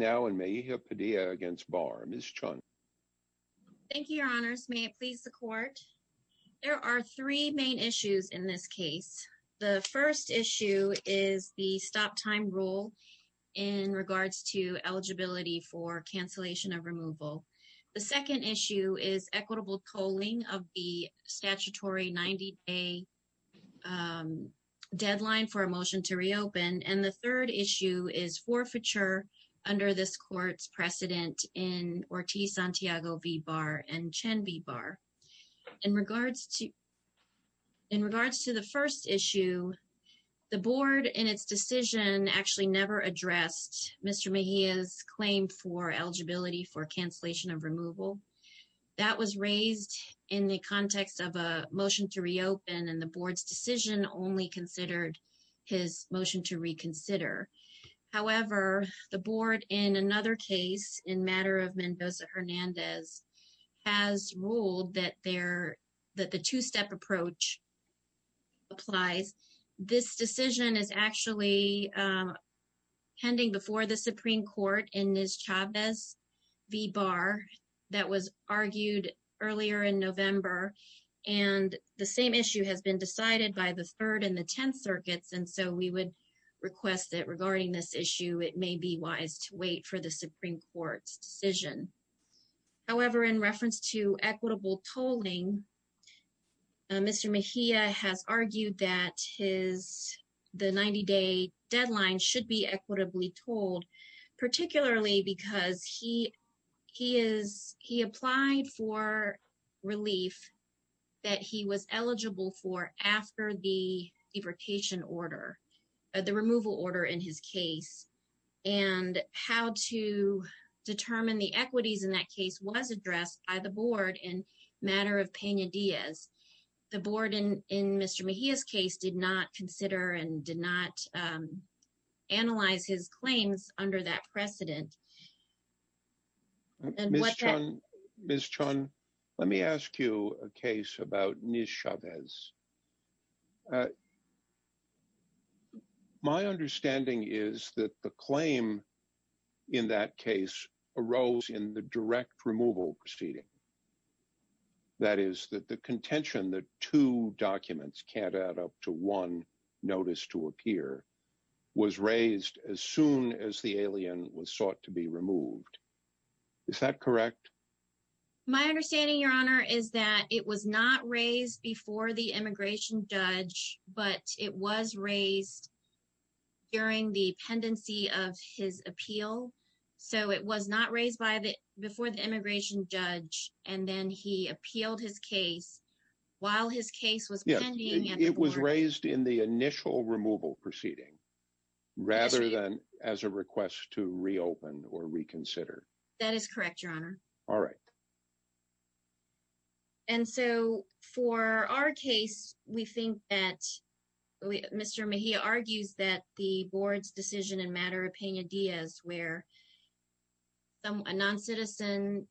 Thank you, Your Honors. May it please the Court. There are three main issues in this case. The first issue is the stop-time rule in regards to eligibility for cancellation of removal. The second issue is equitable tolling of the statutory 90-day deadline for this court's precedent in Ortiz-Santiago v. Barr and Chen v. Barr. In regards to the first issue, the Board in its decision actually never addressed Mr. Mejia's claim for eligibility for cancellation of removal. That was raised in the context of a motion to reopen, and the Board's decision only considered his motion to reconsider. However, the Board in another case in matter of Mendoza-Hernandez has ruled that the two-step approach applies. This decision is actually pending before the Supreme Court in Ms. Chavez v. Barr. That was argued earlier in November, and the same issue has been decided by the Third and the Tenth Circuits, and so we would request that regarding this issue, it may be wise to wait for the Supreme Court's decision. However, in reference to equitable tolling, Mr. Mejia has argued that his, the 90-day deadline should be equitably tolled, particularly because he applied for relief that he was eligible for after the deportation order, the removal order in his case, and how to determine the equities in that case was addressed by the Board in matter of Pena-Diaz. The Board in Mr. Mejia's case did not consider and did not analyze his claims under that precedent. Ms. Chun, let me ask you a case about Ms. Chavez. My understanding is that the claim in that case arose in the direct removal proceeding. That is, that the contention that two documents can't add up to one notice to appear was raised as soon as the alien was sought to be removed. Is that correct? My understanding, Your Honor, is that it was not raised before the immigration judge, but it was raised during the pendency of his appeal. So it was not raised before the immigration judge and then he appealed his case while his case was pending. It was raised in the initial removal proceeding rather than as a request to reopen or reconsider. That is correct, Your Honor. All right. And so for our case, we think that Mr. Mejia argues that the Board's decision in matter of Pena-Diaz where a noncitizen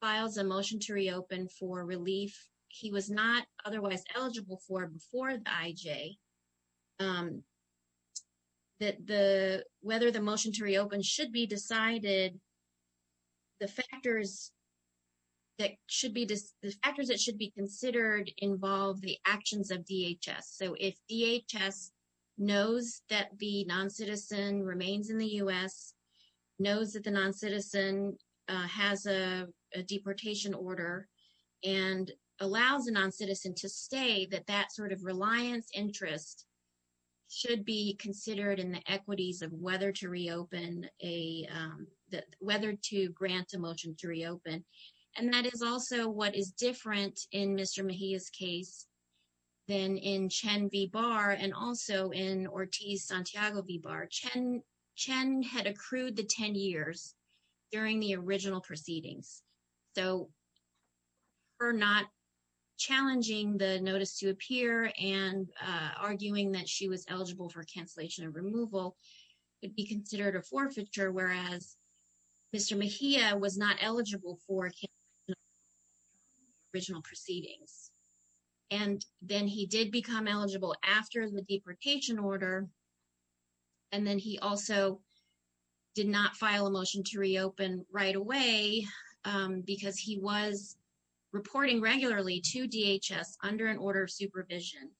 files a motion to reopen for relief he was not otherwise eligible for before the IJ, that whether the motion to reopen should be decided, the factors that should be considered involve the actions of DHS. So if DHS knows that the noncitizen remains in the U.S., knows that the noncitizen has a deportation order, and allows a noncitizen to stay, that that sort of reliance interest should be considered in the equities of whether to reopen, whether to grant a motion to reopen. And that is also what is different in Mr. Mejia's case than in Chen V. Barr and also in Ortiz-Santiago V. Barr. Chen had accrued the 10 years during the original proceedings. So her not challenging the notice to appear and arguing that she was eligible for cancellation and removal would be considered a forfeiture, whereas Mr. Mejia was not eligible for original proceedings. And then he did become eligible after the deportation order, and then he also did not file a motion to reopen right away because he was reporting regularly to DHS under an order of supervision.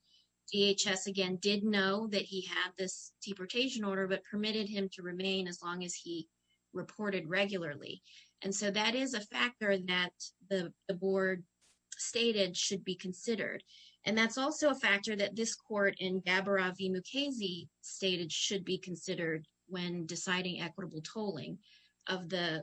DHS, again, did know that he had deportation order, but permitted him to remain as long as he reported regularly. And so that is a factor that the board stated should be considered. And that's also a factor that this court in Gabbara V. Mukasey stated should be considered when deciding equitable tolling of the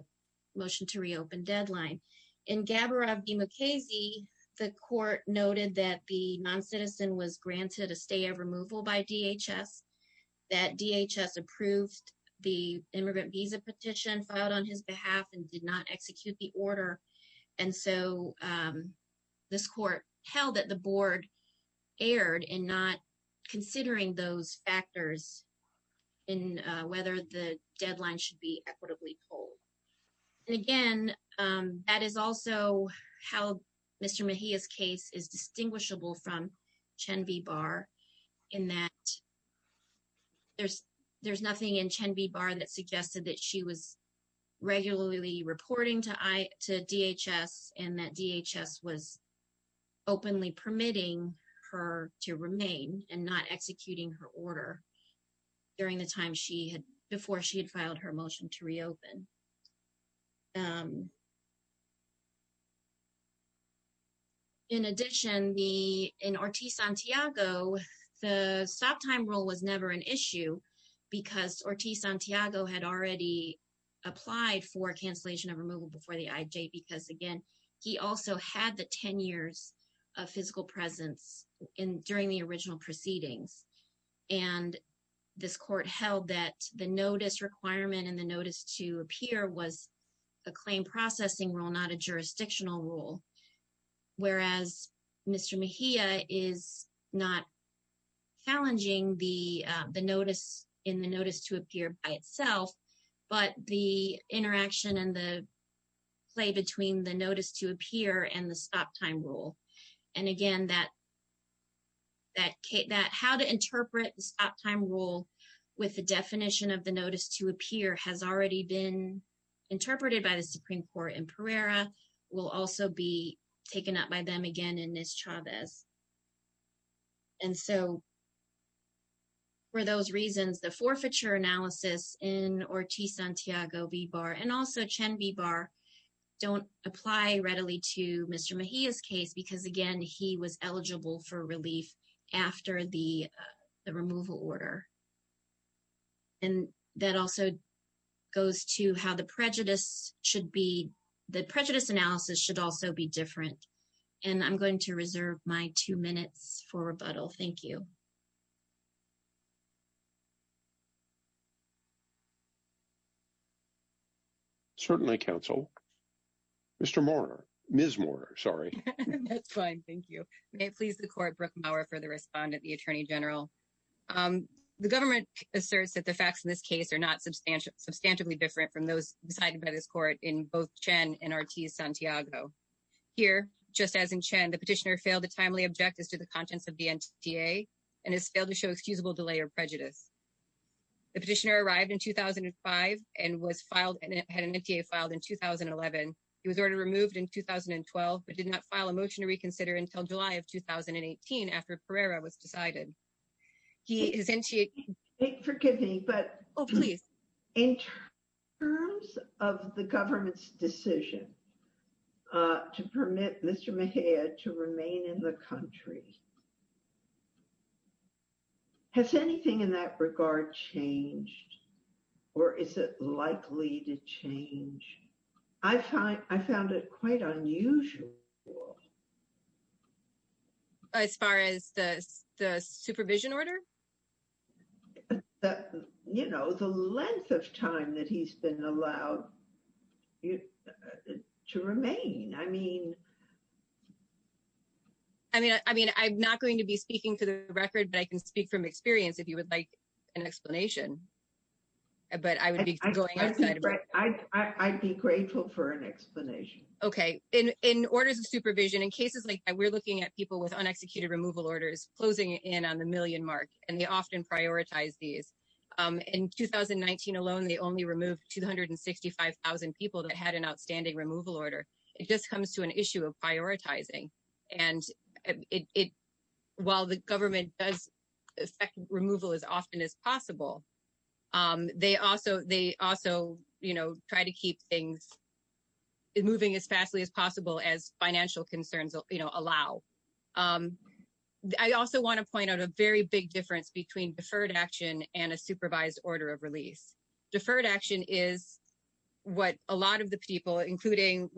motion to reopen deadline. In Gabbara V. Mukasey, the court noted that the noncitizen was granted a removal by DHS, that DHS approved the immigrant visa petition filed on his behalf and did not execute the order. And so this court held that the board erred in not considering those factors in whether the deadline should be equitably tolled. And again, that is also how Mr. Mejia's is distinguishable from Chen V. Barr in that there's nothing in Chen V. Barr that suggested that she was regularly reporting to DHS and that DHS was openly permitting her to remain and not executing her order during the time before she had filed her motion to reopen. In addition, in Ortiz-Santiago, the stop time rule was never an issue because Ortiz-Santiago had already applied for cancellation of removal before the IJ because again, he also had the 10 years of physical presence during the original proceedings. And this court held that the notice requirement and the notice to appear was a claim processing rule, not a jurisdictional rule. Whereas Mr. Mejia is not challenging the notice in the notice to appear by itself, but the interaction and the play between the notice to appear and the stop time rule. And again, that how to interpret the stop time rule with the definition of the notice to appear has already been interpreted by the Supreme Court in Pereira, will also be taken up by them again in Ms. Chavez. And so for those reasons, the forfeiture analysis in Ortiz-Santiago, and also Chen Bibar don't apply readily to Mr. Mejia's case because again, he was eligible for relief after the removal order. And that also goes to how the prejudice should be, the prejudice analysis should also be different. And I'm going to reserve my two minutes for certainly counsel. Mr. Mourner, Ms. Mourner, sorry. That's fine, thank you. May it please the court, Brooke Maurer for the respondent, the Attorney General. The government asserts that the facts in this case are not substantially different from those decided by this court in both Chen and Ortiz-Santiago. Here, just as in Chen, the petitioner failed to timely object as to the contents of the NTA and has failed to show excusable delay or prejudice. The petitioner arrived in 2005 and was filed and had an NTA filed in 2011. He was already removed in 2012, but did not file a motion to reconsider until July of 2018 after Pereira was decided. Forgive me, but in terms of the government's decision to permit Mr. Mejia to remain in the NTA, is it likely to change? I found it quite unusual. As far as the supervision order? You know, the length of time that he's been allowed to remain. I mean... I mean, I'm not going to be speaking for the record, but I can speak from experience if you would like an explanation. But I would be going outside of my... I'd be grateful for an explanation. Okay. In orders of supervision, in cases like that, we're looking at people with unexecuted removal orders closing in on the million mark, and they often prioritize these. In 2019 alone, they only removed 265,000 people that had an outstanding removal order. It just comes to an issue of prioritizing. And while the government does expect removal as often as possible, they also try to keep things moving as fastly as possible as financial concerns allow. I also want to point out a very big difference between deferred action and a supervised order of release. Deferred action is what a lot of the people, including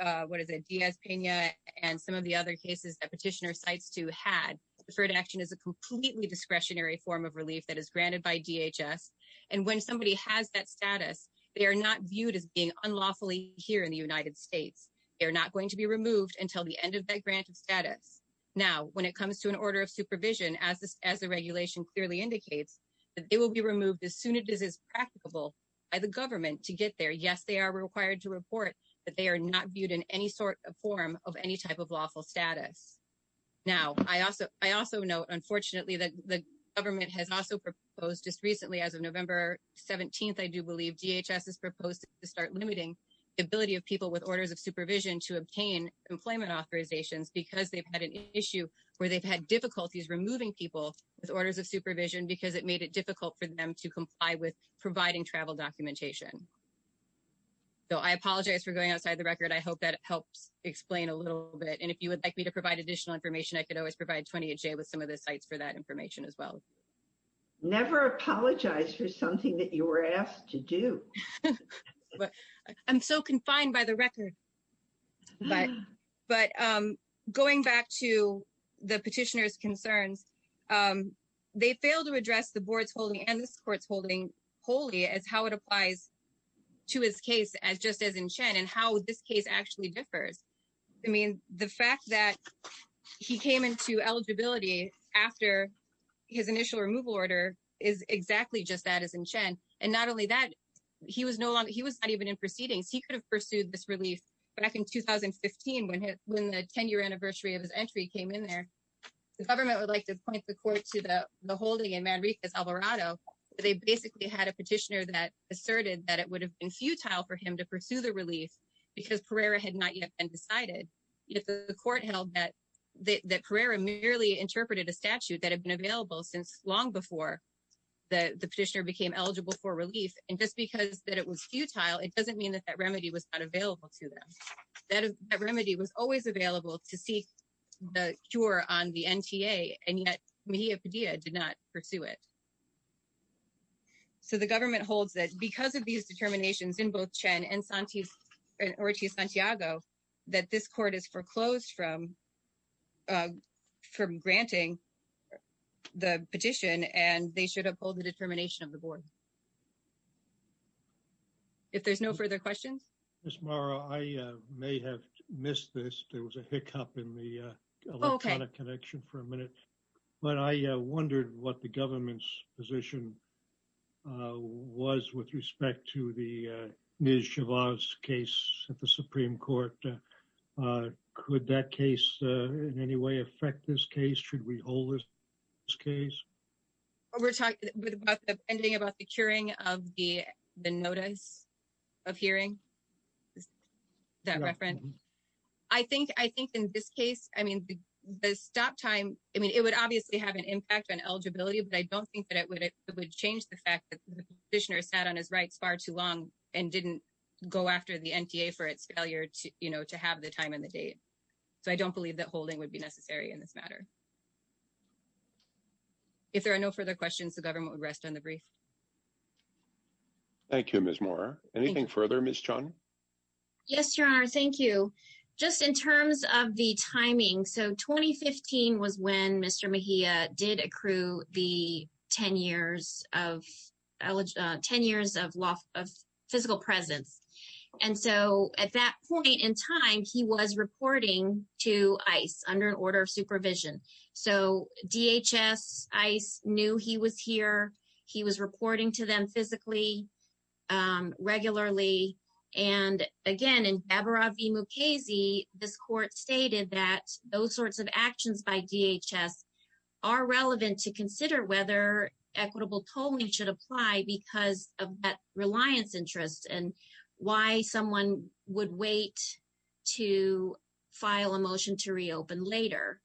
Diaz-Pena and some of the other cases that Petitioner Cites II had, deferred action is a completely discretionary form of relief that is granted by DHS. And when somebody has that status, they are not viewed as being unlawfully here in the United States. They're not going to be removed until the end of that granted status. Now, when it comes to an order of supervision, as the regulation clearly indicates, that they will be removed as soon as it is practicable by the government to get there. Yes, they are required to report that they are not viewed in any sort of form of any type of lawful status. Now, I also note, unfortunately, that the government has also proposed just recently, as of November 17th, I do believe, DHS has proposed to start limiting the ability of people with orders of supervision to obtain employment authorizations because they've had an issue where they've had difficulties removing people with orders of supervision because it made it difficult for them to comply with a lawful status. And so, I think that that helps explain a little bit. And if you would like me to provide additional information, I could always provide 28J with some of the sites for that information as well. Never apologize for something that you were asked to do. I'm so confined by the record. But going back to the petitioner's concerns, they failed to address the board's holding and this court's holding wholly as how it applies to his case as just as in Chen and how this case actually differs. I mean, the fact that he came into eligibility after his initial removal order is exactly just that as in Chen. And not only that, he was not even in proceedings. He could have pursued this relief back in 2015 when the 10-year anniversary of his entry came in there. The government would like to point the court to the holding in Manriquez, Alvarado. They basically had a futile for him to pursue the relief because Pereira had not yet been decided. Yet the court held that Pereira merely interpreted a statute that had been available since long before the petitioner became eligible for relief. And just because that it was futile, it doesn't mean that that remedy was not available to them. That remedy was always available to seek the cure on the NTA and yet Mejia Padilla did not pursue it. So, the government holds that because of these determinations in both Chen and Ortiz-Santiago that this court has foreclosed from granting the petition and they should have pulled the determination of the board. If there's no further questions? Ms. Morrow, I may have missed this. There was a hiccup in the electronic connection for a minute. But I wondered what the government's position was with respect to the Nij-Shavaz case at the Supreme Court. Could that case in any way affect this case? Should we hold this case? Well, we're talking about the pending about the curing of the notice of hearing, is that reference? I think in this case, I mean, the stop time, I mean, it would obviously have an impact on eligibility, but I don't think that it would change the fact that the petitioner sat on his rights far too long and didn't go after the NTA for its failure to have the time and the date. So, I don't believe that holding would be necessary in this matter. If there are no further questions, the government would rest on the brief. Thank you, Ms. Morrow. Anything further, Ms. Chun? Yes, Your Honor. Thank you. Just in terms of the timing, so 2015 was when Mr. Mejia did accrue the 10 years of physical presence. And so, at that point in time, he was reporting to ICE under an order of supervision. So, DHS, ICE knew he was here. He was reporting to them physically, regularly. And again, in Bhabaravi Mukherjee, this court stated that those sorts of actions by DHS are relevant to consider whether equitable tolling should apply because of that reliance interest and why someone would wait to file a motion to reopen later.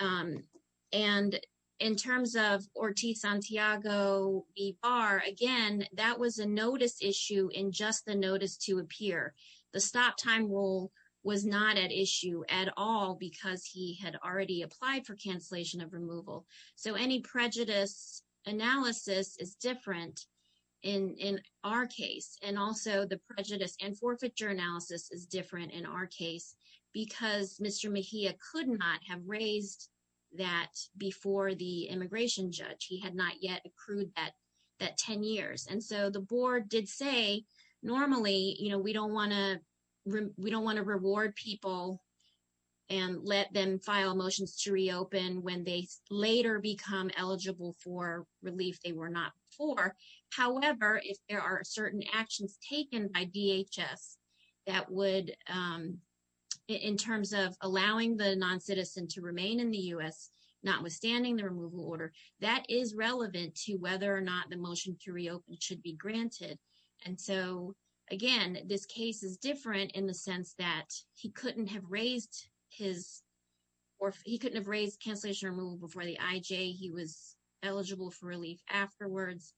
And in terms of Ortiz Santiago Ibar, again, that was a notice issue in just the notice to appear. The stop time rule was not at issue at all because he had already applied for cancellation of in our case. And also, the prejudice and forfeiture analysis is different in our case because Mr. Mejia could not have raised that before the immigration judge. He had not yet accrued that 10 years. And so, the board did say, normally, we don't want to reward people and let them file motions to reopen when they later become eligible for relief they were not for. However, if there are certain actions taken by DHS that would, in terms of allowing the noncitizen to remain in the U.S. notwithstanding the removal order, that is relevant to whether or not the motion to reopen should be granted. And so, again, this case is different in the sense that he couldn't have raised his or he couldn't have raised cancellation removal before the IJ. He was eligible for relief afterwards.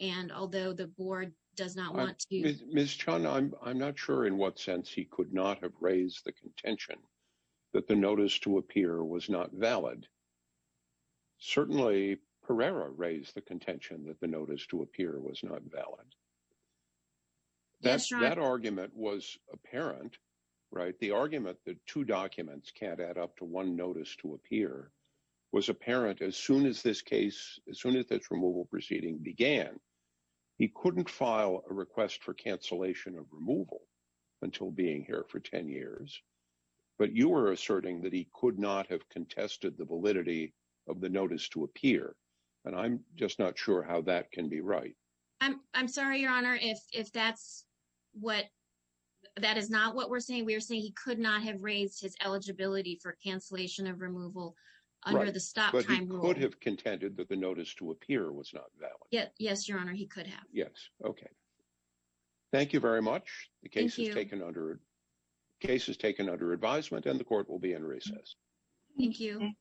And although the board does not want to. Ms. Chun, I'm not sure in what sense he could not have raised the contention that the notice to appear was not valid. Certainly, Pereira raised the contention that the notice to appear was not valid. That argument was apparent, right? The argument that two documents can't add up to one notice to appear was apparent as soon as this case, as soon as this removal proceeding began. He couldn't file a request for cancellation of removal until being here for 10 years. But you were asserting that he could not have contested the validity of the notice to appear. And I'm just not sure how that can be right. I'm sorry, Your Honor, if that's what that is not what we're saying. We're saying he could not have raised his eligibility for cancellation of removal under the stop time. But he could have contended that the notice to appear was not valid. Yes. Yes, Your Honor. He could have. Yes. Okay. Thank you very much. The case has taken under advisement and the court will be in recess. Thank you.